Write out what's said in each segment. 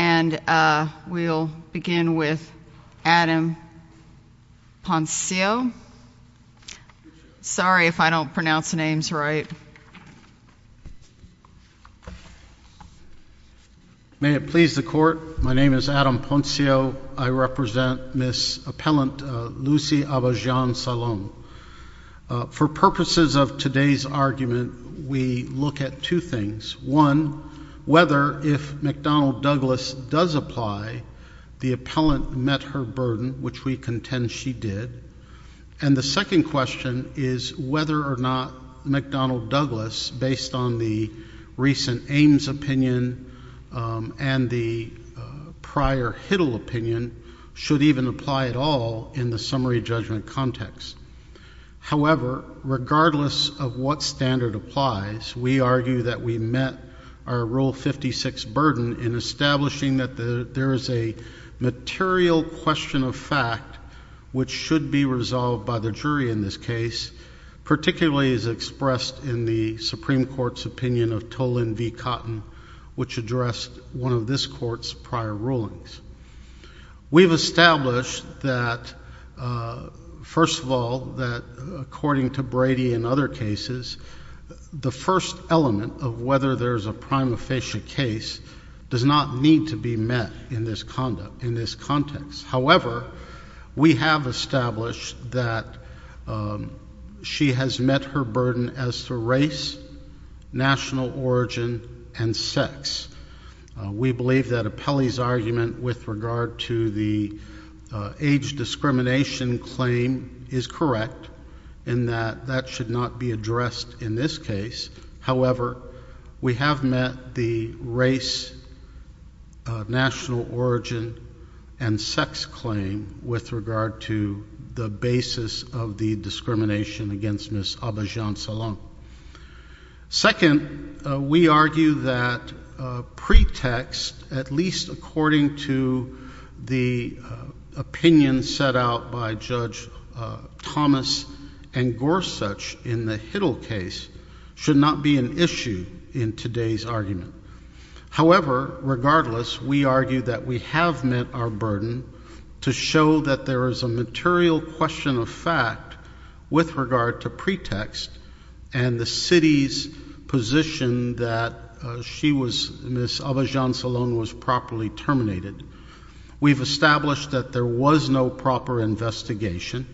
And we'll begin with Adam Ponceo. Sorry if I don't pronounce names right. May it please the court, my name is Adam Ponceo. I represent Ms. Appellant Lucy Abajian-Salon. For purposes of today's argument, we look at two things. One, whether if McDonnell-Douglas does apply, the appellant met her burden, which we contend she did. And the second question is whether or not McDonnell-Douglas, based on the recent Ames opinion and the prior Hiddle opinion, should even apply at all in the summary judgment context. However, regardless of what standard applies, we argue that we met our Rule 56 burden in establishing that there is a material question of fact which should be resolved by the jury in this case, particularly as expressed in the Supreme Court's opinion of Tolan v. Cotton, which addressed one of this court's prior rulings. We've established that, first of all, that according to Brady and other cases, the first element of whether there is a prima facie case does not need to be met in this context. However, we have established that she has met her burden as to race, national origin, and sex. We believe that Appellee's argument with regard to the age discrimination claim is correct in that that should not be addressed in this case. However, we have met the race, national origin, and sex claim with regard to the basis of the discrimination against Ms. Abidjan-Salam. Second, we argue that pretext, at least according to the opinion set out by Judge Thomas and Gorsuch in the Hiddle case, should not be an issue in today's argument. However, regardless, we argue that we have met our burden to show that there is a material question of fact with regard to pretext and the city's position that Ms. Abidjan-Salam was properly terminated. We've established that there was no proper investigation.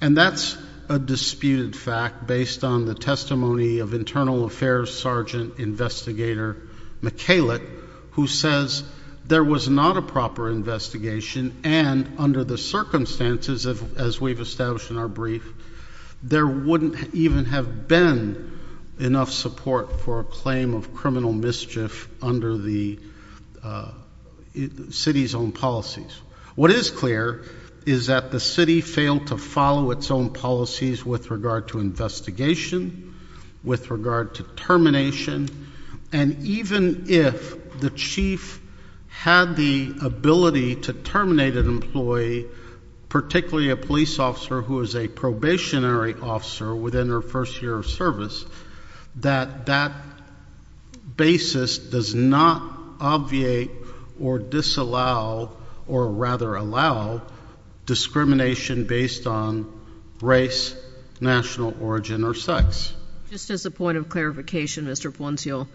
And that's a disputed fact based on the testimony of Internal Affairs Sergeant Investigator Michalik, who says there was not a proper investigation. And under the circumstances, as we've established in our brief, there wouldn't even have been enough support for a claim of criminal mischief under the city's own policies. What is clear is that the city failed to follow its own policies with regard to investigation, with regard to termination. And even if the chief had the ability to terminate an employee, particularly a police officer who is a probationary officer within her first year of service, that that basis does not obviate or disallow, or rather allow, discrimination based on race, national origin, or sex. Just as a point of clarification, Mr. Ponceal,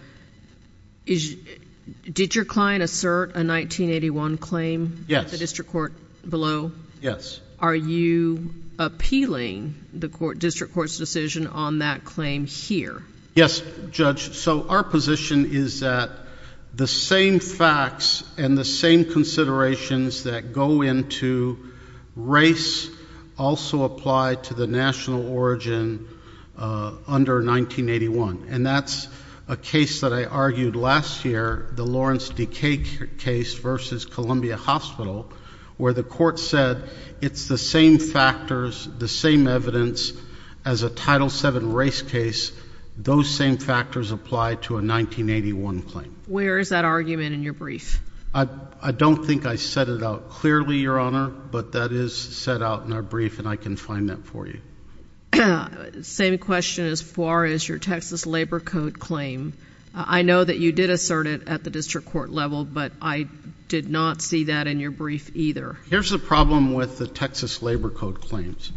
did your client assert a 1981 claim at the district court below? Yes. Are you appealing the district court's decision on that claim here? Yes, Judge. So our position is that the same facts and the same considerations that go into race also apply to the national origin under 1981. And that's a case that I argued last year, the Lawrence Decay case versus Columbia Hospital, where the court said it's the same factors, the same evidence as a Title VII race case. Those same factors apply to a 1981 claim. Where is that argument in your brief? I don't think I set it out clearly, Your Honor, but that is set out in our brief and I can find that for you. Same question as far as your Texas Labor Code claim. I know that you did assert it at the district court level, but I did not see that in your brief either. Here's the problem with the Texas Labor Code claims.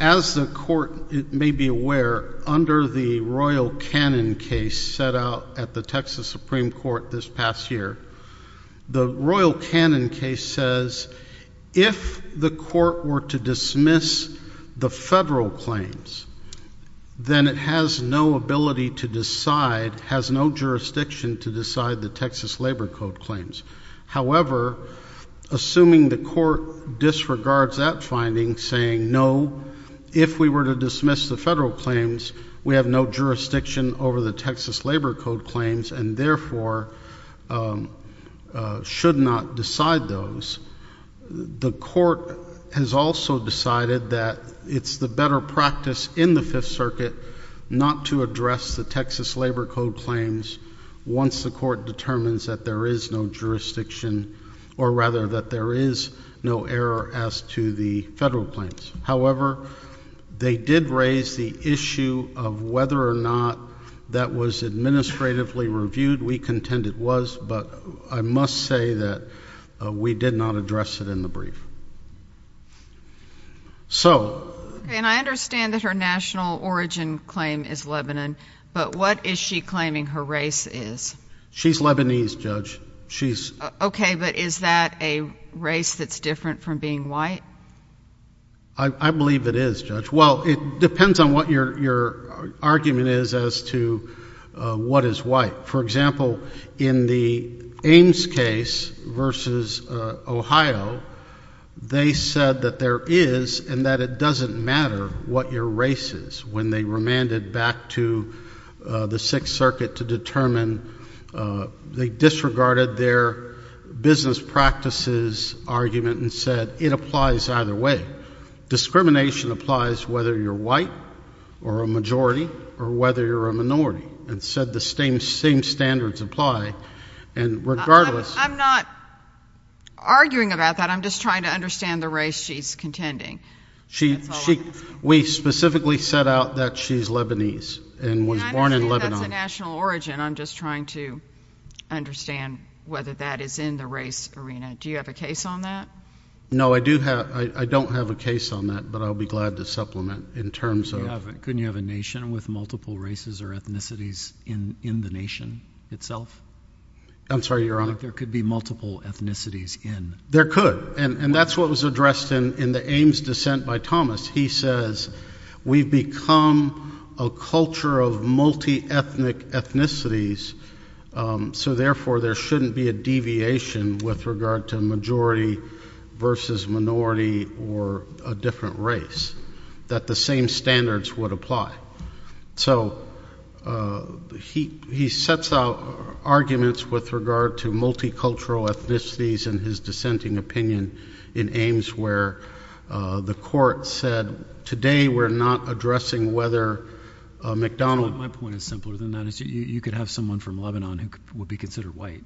As the court may be aware, under the Royal Cannon case set out at the Texas Supreme Court this past year, the Royal Cannon case says if the court were to dismiss the federal claims, then it has no ability to decide, has no jurisdiction to decide the Texas Labor Code claims. However, assuming the court disregards that finding, saying no, if we were to dismiss the federal claims, we have no jurisdiction over the Texas Labor Code claims and therefore should not decide those, the court has also decided that it's the better practice in the Fifth Circuit not to address the Texas Labor Code claims once the court determines that there is no jurisdiction or rather that there is no error as to the federal claims. However, they did raise the issue of whether or not that was administratively reviewed. We contend it was, but I must say that we did not address it in the brief. So. And I understand that her national origin claim is Lebanon, but what is she claiming her race is? She's Lebanese, Judge. She's. OK, but is that a race that's different from being white? I believe it is, Judge. Well, it depends on what your argument is as to what is white. For example, in the Ames case versus Ohio, they said that there is and that it doesn't matter what your race is. When they remanded back to the Sixth Circuit to determine, they disregarded their business practices argument and said it applies either way. Discrimination applies whether you're white or a majority or whether you're a minority. And said the same standards apply. And regardless. I'm not arguing about that. I'm just trying to understand the race she's contending. She. We specifically set out that she's Lebanese and was born in Lebanon. That's a national origin. I'm just trying to understand whether that is in the race arena. Do you have a case on that? No, I do have. I don't have a case on that, but I'll be glad to supplement in terms of. Couldn't you have a nation with multiple races or ethnicities in the nation itself? I'm sorry, Your Honor. There could be multiple ethnicities in. There could. And that's what was addressed in the Ames dissent by Thomas. He says, we've become a culture of multi-ethnic ethnicities. So therefore, there shouldn't be a deviation with regard to majority versus minority or a different race. That the same standards would apply. So he sets out arguments with regard to multicultural ethnicities in his dissenting opinion in Ames where the court said, today, we're not addressing whether McDonald's. My point is simpler than that. You could have someone from Lebanon who would be considered white,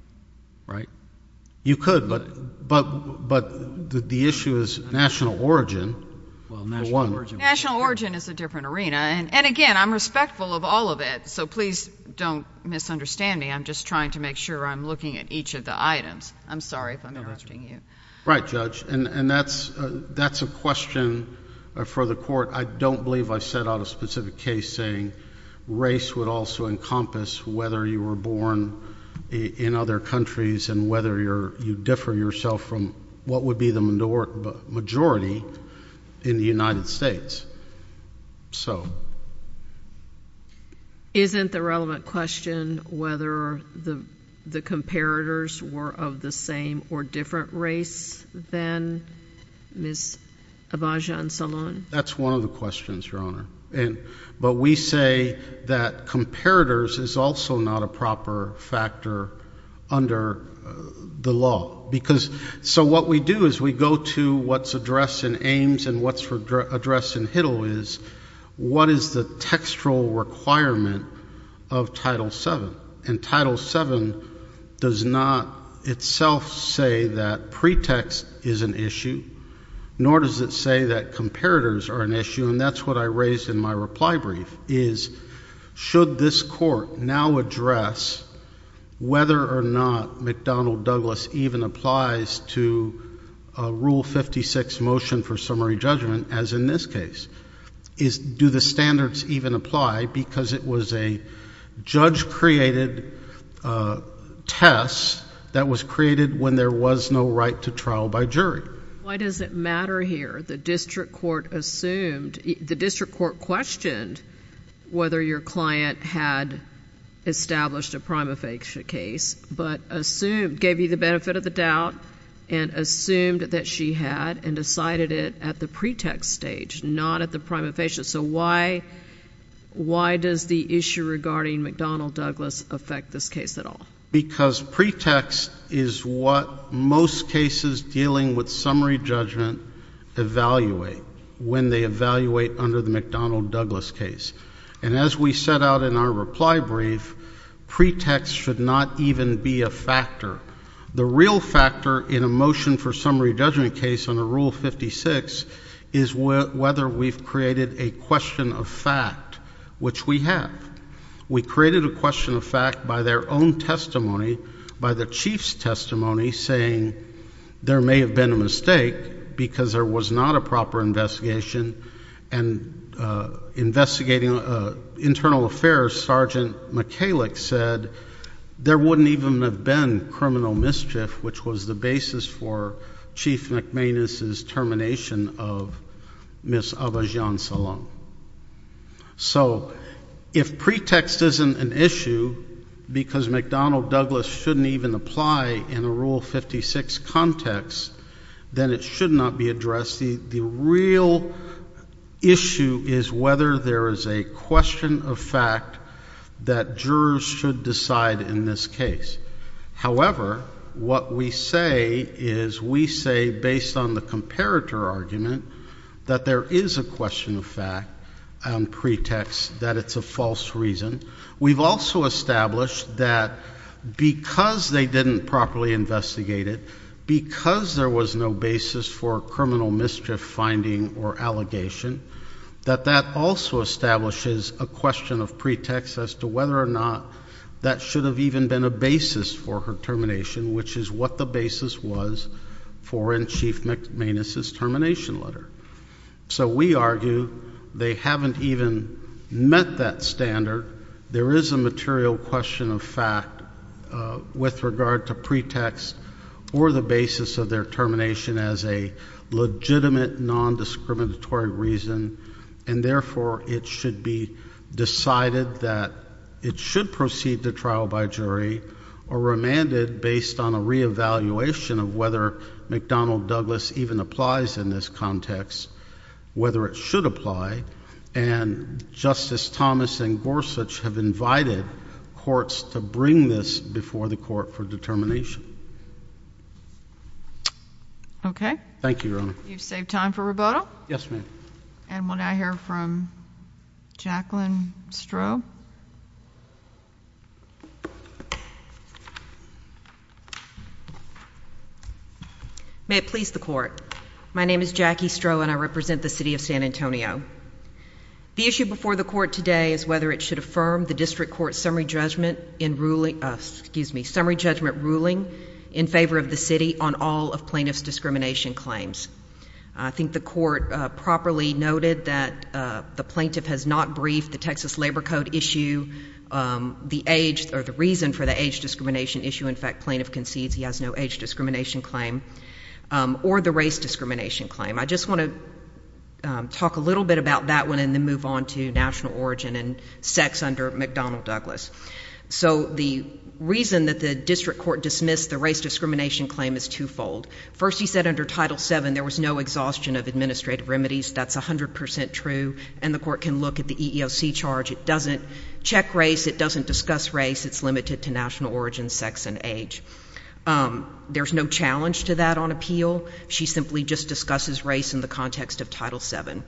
right? You could, but the issue is national origin for one. National origin is a different arena. And again, I'm respectful of all of it. So please don't misunderstand me. I'm just trying to make sure I'm looking at each of the items. I'm sorry if I'm arresting you. Right, Judge. And that's a question for the court. I don't believe I set out a specific case saying, race would also encompass whether you were born in other countries and whether you differ yourself from what would be the majority in the United States. So. Isn't the relevant question whether the comparators were of the same or different race than Ms. Abaja and Salon? That's one of the questions, Your Honor. But we say that comparators is also not a proper factor under the law. So what we do is we go to what's addressed in Ames and what's addressed in Hittle is, what is the textual requirement of Title VII? And Title VII does not itself say that pretext is an issue, nor does it say that comparators are an issue. And that's what I raised in my reply brief is, should this court now address whether or not McDonnell Douglas even applies to a Rule 56 motion for summary judgment, as in this case? Do the standards even apply? Because it was a judge-created test that was created when there was no right to trial by jury. Why does it matter here? The district court assumed, the district court questioned whether your client had established a prima facie case, but assumed, gave you the benefit of the doubt, and assumed that she had and decided it at the pretext stage, not at the prima facie. So why does the issue regarding McDonnell Douglas affect this case at all? Because pretext is what most cases dealing with summary judgment evaluate when they evaluate under the McDonnell Douglas case. And as we set out in our reply brief, pretext should not even be a factor. The real factor in a motion for summary judgment case on a Rule 56 is whether we've created a question of fact, which we have. We created a question of fact by their own testimony, by the chief's testimony, saying there may have been a mistake because there was not a proper investigation. And investigating internal affairs, Sergeant McKalick said, there wouldn't even have been criminal mischief, which was the basis for Chief McManus's termination of Miss Abhijan Salam. So if pretext isn't an issue because McDonnell Douglas shouldn't even apply in a Rule 56 context, then it should not be addressed. The real issue is whether there is a question of fact that jurors should decide in this case. However, what we say is we say based on the comparator argument that there is a question of fact on pretext that it's a false reason. We've also established that because they didn't properly investigate it, because there was no basis for criminal mischief finding or allegation, that that also establishes a question of pretext as to whether or not that should have even been a basis for her termination, which is what the basis was for in Chief McManus's termination letter. So we argue they haven't even met that standard. There is a material question of fact with regard to pretext or the basis of their termination as a legitimate, non-discriminatory reason. And therefore, it should be decided that it should proceed to trial by jury or remanded based on a re-evaluation of whether McDonnell Douglas even applies in this context, whether it should apply. And Justice Thomas and Gorsuch have invited courts to bring this before the court for determination. OK. Thank you, Your Honor. You've saved time for rebuttal. Yes, ma'am. And we'll now hear from Jacqueline Stroh. May it please the court. My name is Jackie Stroh, and I represent the city of San Antonio. The issue before the court today is whether it should affirm the district court's summary judgment in ruling us, excuse me, summary judgment ruling in favor of the city on all of plaintiff's discrimination claims. I think the court properly noted that the plaintiff has not briefed the Texas Labor Code issue, the age or the reason for the age discrimination issue. In fact, plaintiff concedes he has no age discrimination claim, or the race discrimination claim. I just want to talk a little bit about that one and then move on to national origin and sex under McDonnell Douglas. So the reason that the district court dismissed the race discrimination claim is twofold. First, he said under Title VII there was no exhaustion of administrative remedies. That's 100% true. And the court can look at the EEOC charge. It doesn't check race. It doesn't discuss race. It's limited to national origin, sex, and age. There's no challenge to that on appeal. She simply just discusses race in the context of Title VII.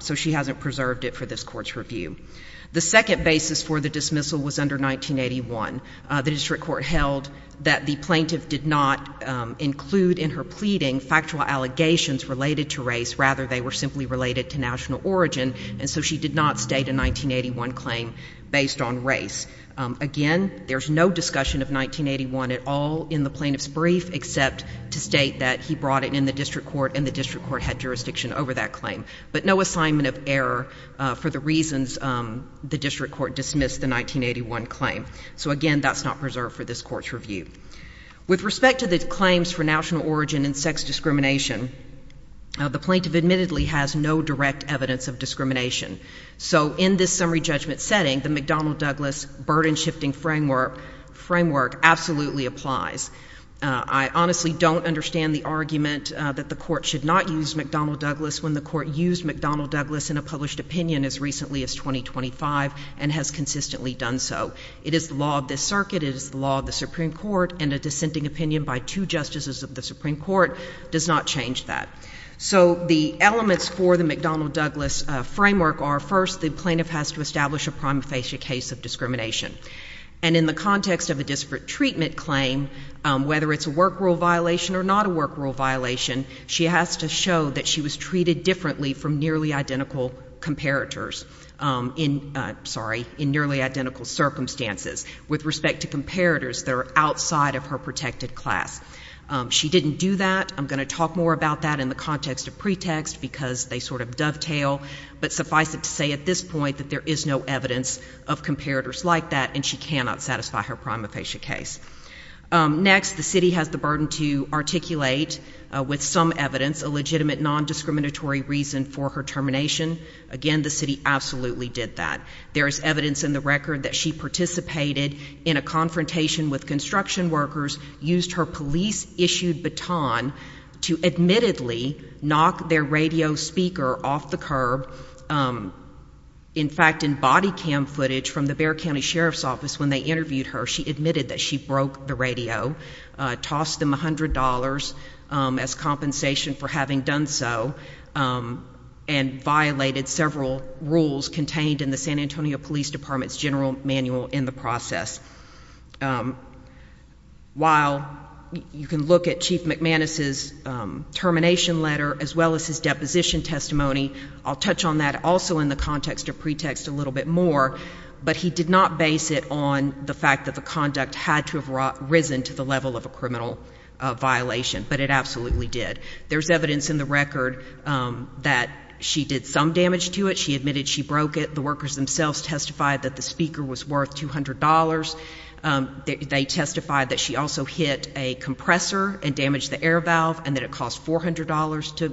So she hasn't preserved it for this court's review. The second basis for the dismissal was under 1981. The district court held that the plaintiff did not include in her pleading factual allegations related to race. Rather, they were simply related to national origin. And so she did not state a 1981 claim based on race. Again, there's no discussion of 1981 at all in the plaintiff's brief except to state that he brought it in the district court and the district court had jurisdiction over that claim. But no assignment of error for the reasons the district court dismissed the 1981 claim. So again, that's not preserved for this court's review. With respect to the claims for national origin and sex discrimination, the plaintiff admittedly has no direct evidence of discrimination. So in this summary judgment setting, the McDonnell-Douglas burden-shifting framework absolutely applies. I honestly don't understand the argument that the court should not use McDonnell-Douglas when the court used McDonnell-Douglas in a published opinion as recently as 2025 and has consistently done so. It is the law of this circuit. It is the law of the Supreme Court. And a dissenting opinion by two justices of the Supreme Court does not change that. So the elements for the McDonnell-Douglas framework are, first, the plaintiff has to establish a prima facie case of discrimination. And in the context of a disparate treatment claim, whether it's a work rule violation or not a work rule violation, she has to show that she was treated differently from nearly identical comparators in nearly identical circumstances with respect to comparators that are outside of her protected class. She didn't do that. I'm going to talk more about that in the context of pretext because they sort of dovetail. But suffice it to say at this point that there is no evidence of comparators like that, and she cannot satisfy her prima facie case. Next, the city has the burden to articulate with some evidence a legitimate non-discriminatory reason for her termination. Again, the city absolutely did that. There is evidence in the record that she participated in a confrontation with construction workers, used her police-issued baton to admittedly knock their radio speaker off the curb. In fact, in body cam footage from the Bexar County Sheriff's Office when they interviewed her, she admitted that she broke the radio, tossed them $100 as compensation for having done so, and violated several rules contained in the San Antonio Police Department's general manual in the process. While you can look at Chief McManus's termination letter as well as his deposition testimony, I'll touch on that also in the context of pretext a little bit more. But he did not base it on the fact that the conduct had to have risen to the level of a criminal violation, but it absolutely did. There's evidence in the record that she did some damage to it. She admitted she broke it. The workers themselves testified that the speaker was worth $200. They testified that she also hit a compressor and damaged the air valve, and that it cost $400 to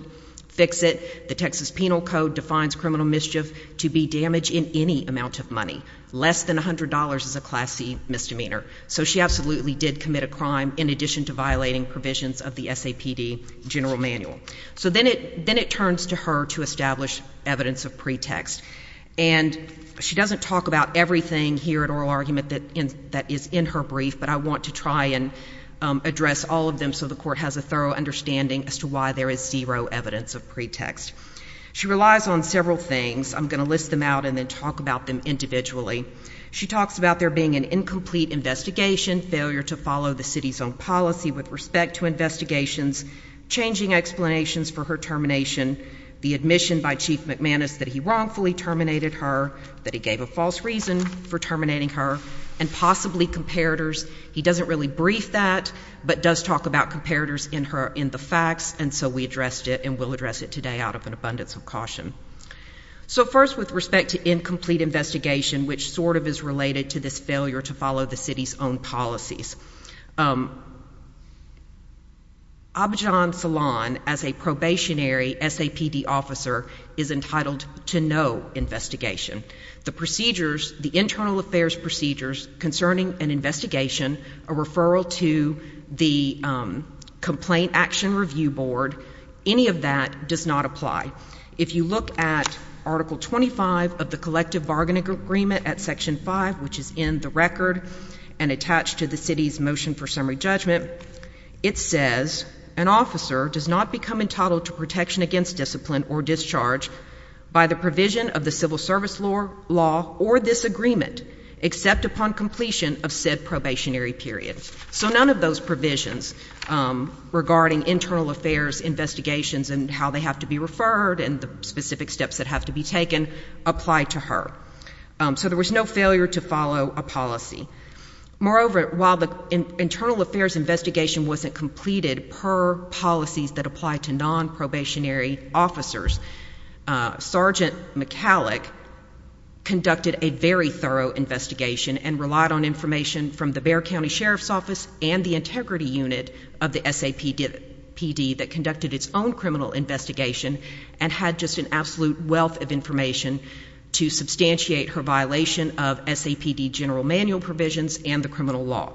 fix it. The Texas Penal Code defines criminal mischief to be damage in any amount of money. Less than $100 is a Class C misdemeanor. So she absolutely did commit a crime in addition to violating provisions of the SAPD general manual. So then it turns to her to establish evidence of pretext. And she doesn't talk about everything here in oral argument that is in her brief, but I want to try and address all of them so the court has a thorough understanding as to why there is zero evidence of pretext. She relies on several things. I'm going to list them out and then talk about them individually. She talks about there being an incomplete investigation, failure to follow the city's own policy with respect to investigations, changing explanations for her termination, the admission by Chief McManus that he wrongfully terminated her, that he gave a false reason for terminating her, and possibly comparators. He doesn't really brief that, but does talk about comparators in the facts. And so we addressed it, and we'll address it today out of an abundance of caution. So first, with respect to incomplete investigation, which sort of is related to this failure to follow the city's own policies, Abhijan Salon, as a probationary SAPD officer, is entitled to no investigation. The procedures, the internal affairs procedures concerning an investigation, a referral to the Complaint Action Review Board, any of that does not apply. If you look at Article 25 of the Collective Bargaining Agreement at Section 5, which is in the record and attached to the city's motion for summary judgment, it says, an officer does not become entitled to protection against discipline or discharge by the provision of the civil service law or this agreement, except upon completion of said probationary period. So none of those provisions regarding internal affairs investigations and how they have to be referred and the specific steps that have to be taken apply to her. So there was no failure to follow a policy. Moreover, while the internal affairs investigation wasn't completed per policies that apply to non-probationary officers, Sergeant McCallick conducted a very thorough investigation and relied on information from the Bexar County Sheriff's Office and the Integrity Unit of the SAPD that conducted its own criminal investigation and had just an absolute wealth of information to substantiate her violation of SAPD general manual provisions and the criminal law.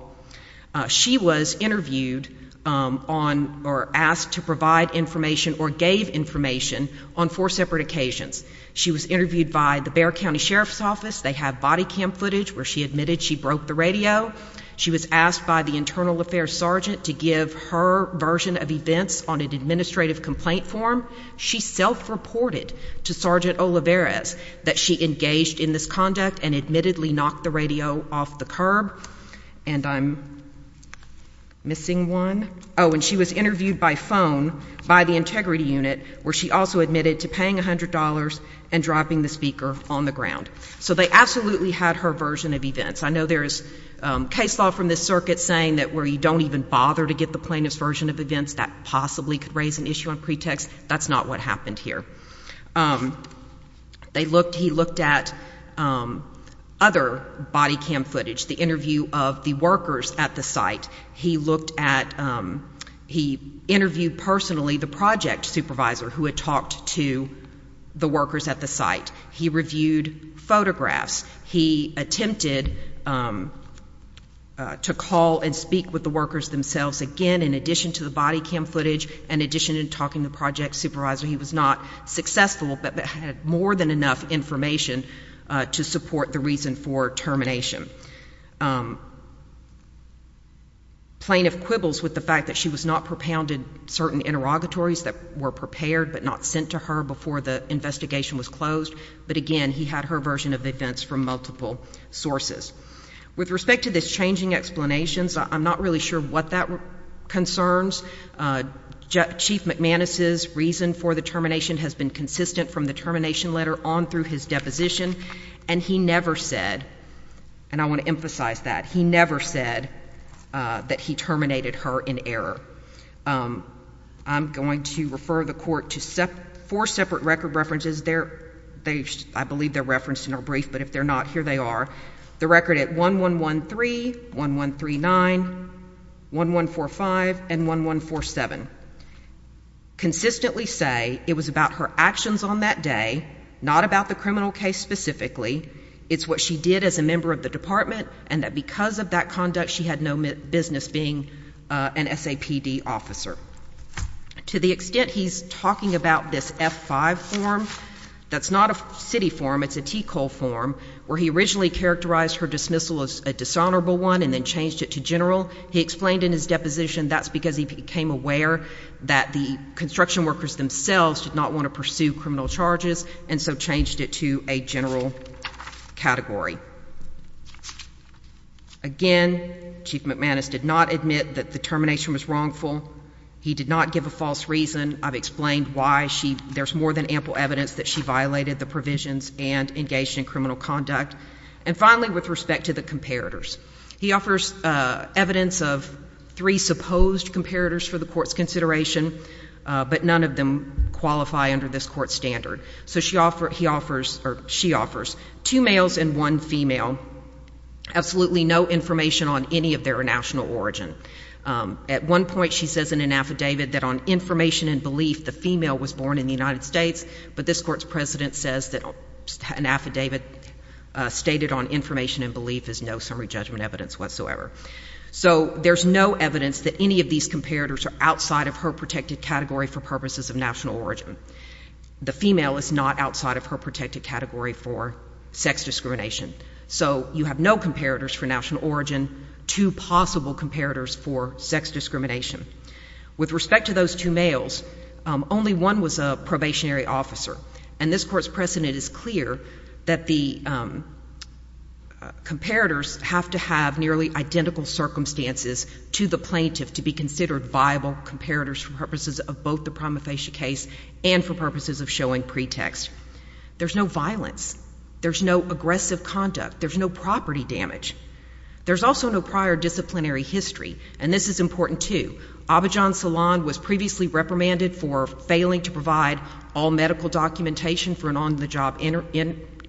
She was interviewed on or asked to provide information or gave information on four separate occasions. She was interviewed by the Bexar County Sheriff's Office. They have body cam footage where she admitted she broke the radio. She was asked by the Internal Affairs Sergeant to give her version of events on an administrative complaint form. She self-reported to Sergeant Olivares that she engaged in this conduct and admittedly knocked the radio off the curb. And I'm missing one. Oh, and she was interviewed by phone by the Integrity Unit where she also admitted to paying $100 and dropping the speaker on the ground. So they absolutely had her version of events. I know there is case law from this circuit saying that where you don't even bother to get the plaintiff's version of events, that possibly could raise an issue on pretext. That's not what happened here. He looked at other body cam footage, the interview of the workers at the site. He interviewed personally the project supervisor who had talked to the workers at the site. He reviewed photographs. He attempted to call and speak with the workers themselves. Again, in addition to the body cam footage, in addition to talking to the project supervisor, he was not successful, but had more than enough information to support the reason for termination. Plaintiff quibbles with the fact that she was not propounded certain interrogatories that were prepared but not sent to her before the investigation was closed. But again, he had her version of events from multiple sources. With respect to this changing explanations, I'm not really sure what that concerns. Chief McManus's reason for the termination has been consistent from the termination letter on through his deposition. And he never said, and I want to emphasize that, he never said that he terminated her in error. I'm going to refer the court to four separate record references. I believe they're referenced in our brief, but if they're not, here they are. The record at 1113, 1139, 1145, and 1147. Consistently say it was about her actions on that day, not about the criminal case specifically. It's what she did as a member of the department, and that because of that conduct, she had no business being an SAPD officer. To the extent he's talking about this F-5 form, that's not a city form, it's a T-Col form, where he originally characterized her dismissal as a dishonorable one and then changed it to general. He explained in his deposition that's because he became aware that the construction workers themselves did not want to pursue criminal charges, and so changed it to a general category. Again, Chief McManus did not admit that the termination was wrongful. He did not give a false reason. I've explained why there's more than ample evidence that she violated the provisions and engaged in criminal conduct. And finally, with respect to the comparators, he offers evidence of three supposed comparators for the court's consideration, but none of them qualify under this court standard. So she offers two males and one female, absolutely no information on any of their national origin. At one point, she says in an affidavit that on information and belief, the female was born in the United States. But this court's president says that an affidavit stated on information and belief is no summary judgment evidence whatsoever. So there's no evidence that any of these comparators are outside of her protected category for purposes of national origin. The female is not outside of her protected category for sex discrimination. So you have no comparators for national origin. Two possible comparators for sex discrimination. With respect to those two males, only one was a probationary officer. And this court's precedent is clear that the comparators have to have nearly identical circumstances to the plaintiff to be considered viable comparators for purposes of both the prima facie case and for purposes of showing pretext. There's no violence. There's no aggressive conduct. There's no property damage. There's also no prior disciplinary history. And this is important, too. Abidjan Salon was previously reprimanded for failing to provide all medical documentation for an on-the-job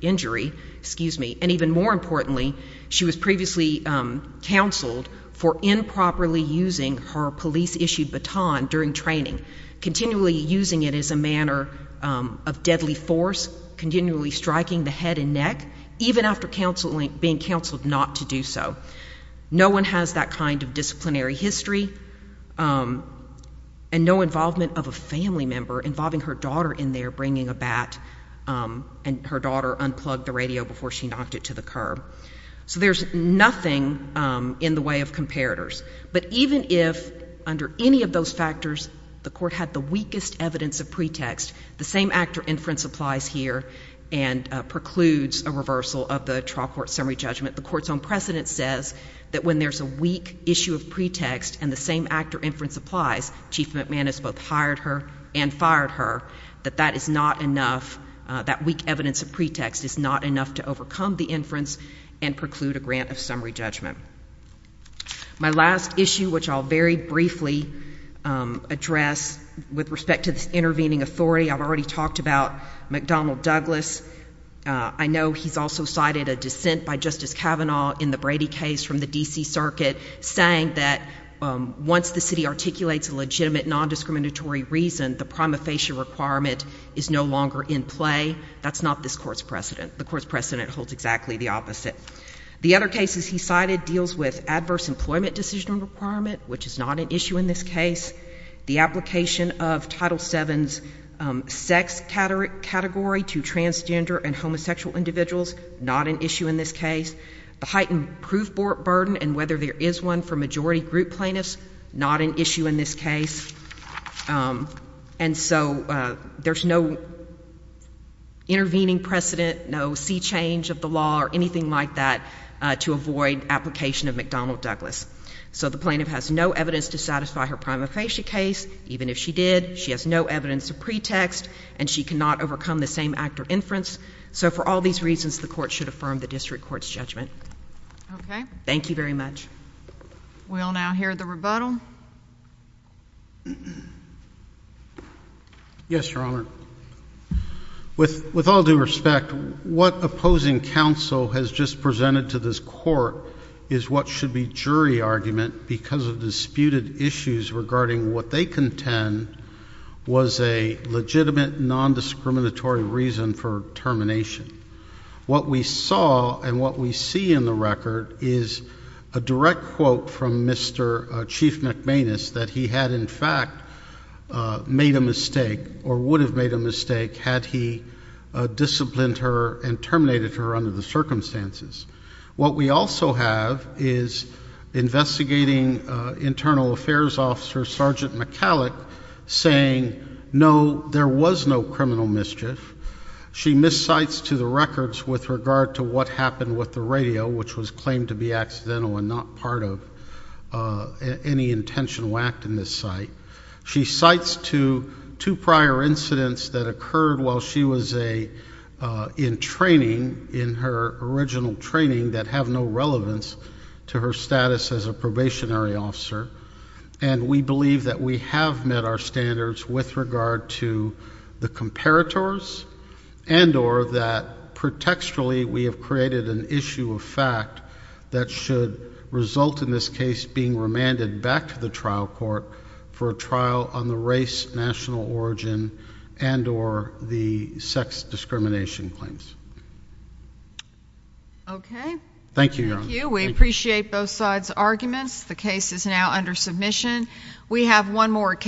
injury. And even more importantly, she was previously counseled for improperly using her police-issued baton during training, continually using it as a manner of deadly force, continually striking the head and neck, even after being counseled not to do so. No one has that kind of disciplinary history and no involvement of a family member involving her daughter in there bringing a bat and her daughter unplugged the radio before she knocked it to the curb. So there's nothing in the way of comparators. But even if, under any of those factors, the court had the weakest evidence of pretext, the same actor inference applies here and precludes a reversal of the trial court summary judgment, the court's own precedent says that when there's a weak issue of pretext and the same actor inference applies, Chief McManus both hired her and fired her, that that is not enough. That weak evidence of pretext is not enough to overcome the inference and preclude a grant of summary judgment. My last issue, which I'll very briefly address with respect to this intervening authority, I've already talked about McDonnell Douglas. I know he's also cited a dissent by Justice Kavanaugh in the Brady case from the DC Circuit saying that once the city articulates a legitimate non-discriminatory reason, the prima facie requirement is no longer in play. That's not this court's precedent. The court's precedent holds exactly the opposite. The other cases he cited deals with adverse employment decision requirement, which is not an issue in this case. The application of Title VII's sex category to transgender and homosexual individuals, not an issue in this case. The heightened proof burden and whether there is one for majority group plaintiffs, not an issue in this case. And so there's no intervening precedent, no sea change of the law, or anything like that to avoid application of McDonnell Douglas. So the plaintiff has no evidence to satisfy her prima facie case, even if she did, she has no evidence of pretext, and she cannot overcome the same act of inference. So for all these reasons, the court should affirm the district court's judgment. Thank you very much. We'll now hear the rebuttal. Yes, Your Honor. With all due respect, what opposing counsel has just presented to this court is what should be jury argument because of disputed issues regarding what they contend was a legitimate, non-discriminatory reason for termination. What we saw and what we see in the record is a direct quote from Mr. Chief McManus that he had, in fact, made a mistake or would have made a mistake had he disciplined her and terminated her under the circumstances. What we also have is investigating internal affairs officer Sergeant McCallick saying, no, there was no criminal mischief. She miscites to the records with regard to what happened with the radio, which was claimed to be accidental and not part of any intentional act in this site. She cites to two prior incidents that occurred while she was in training in her original training that have no relevance to her status as a probationary officer. And we believe that we have met our standards with regard to the comparators and or that, pretextually, we have created an issue of fact that should result in this case being remanded back to the trial court for a trial on the race, national origin, and or the sex discrimination claims. OK. Thank you, Your Honor. We appreciate both sides' arguments. The case is now under submission. We have one more case.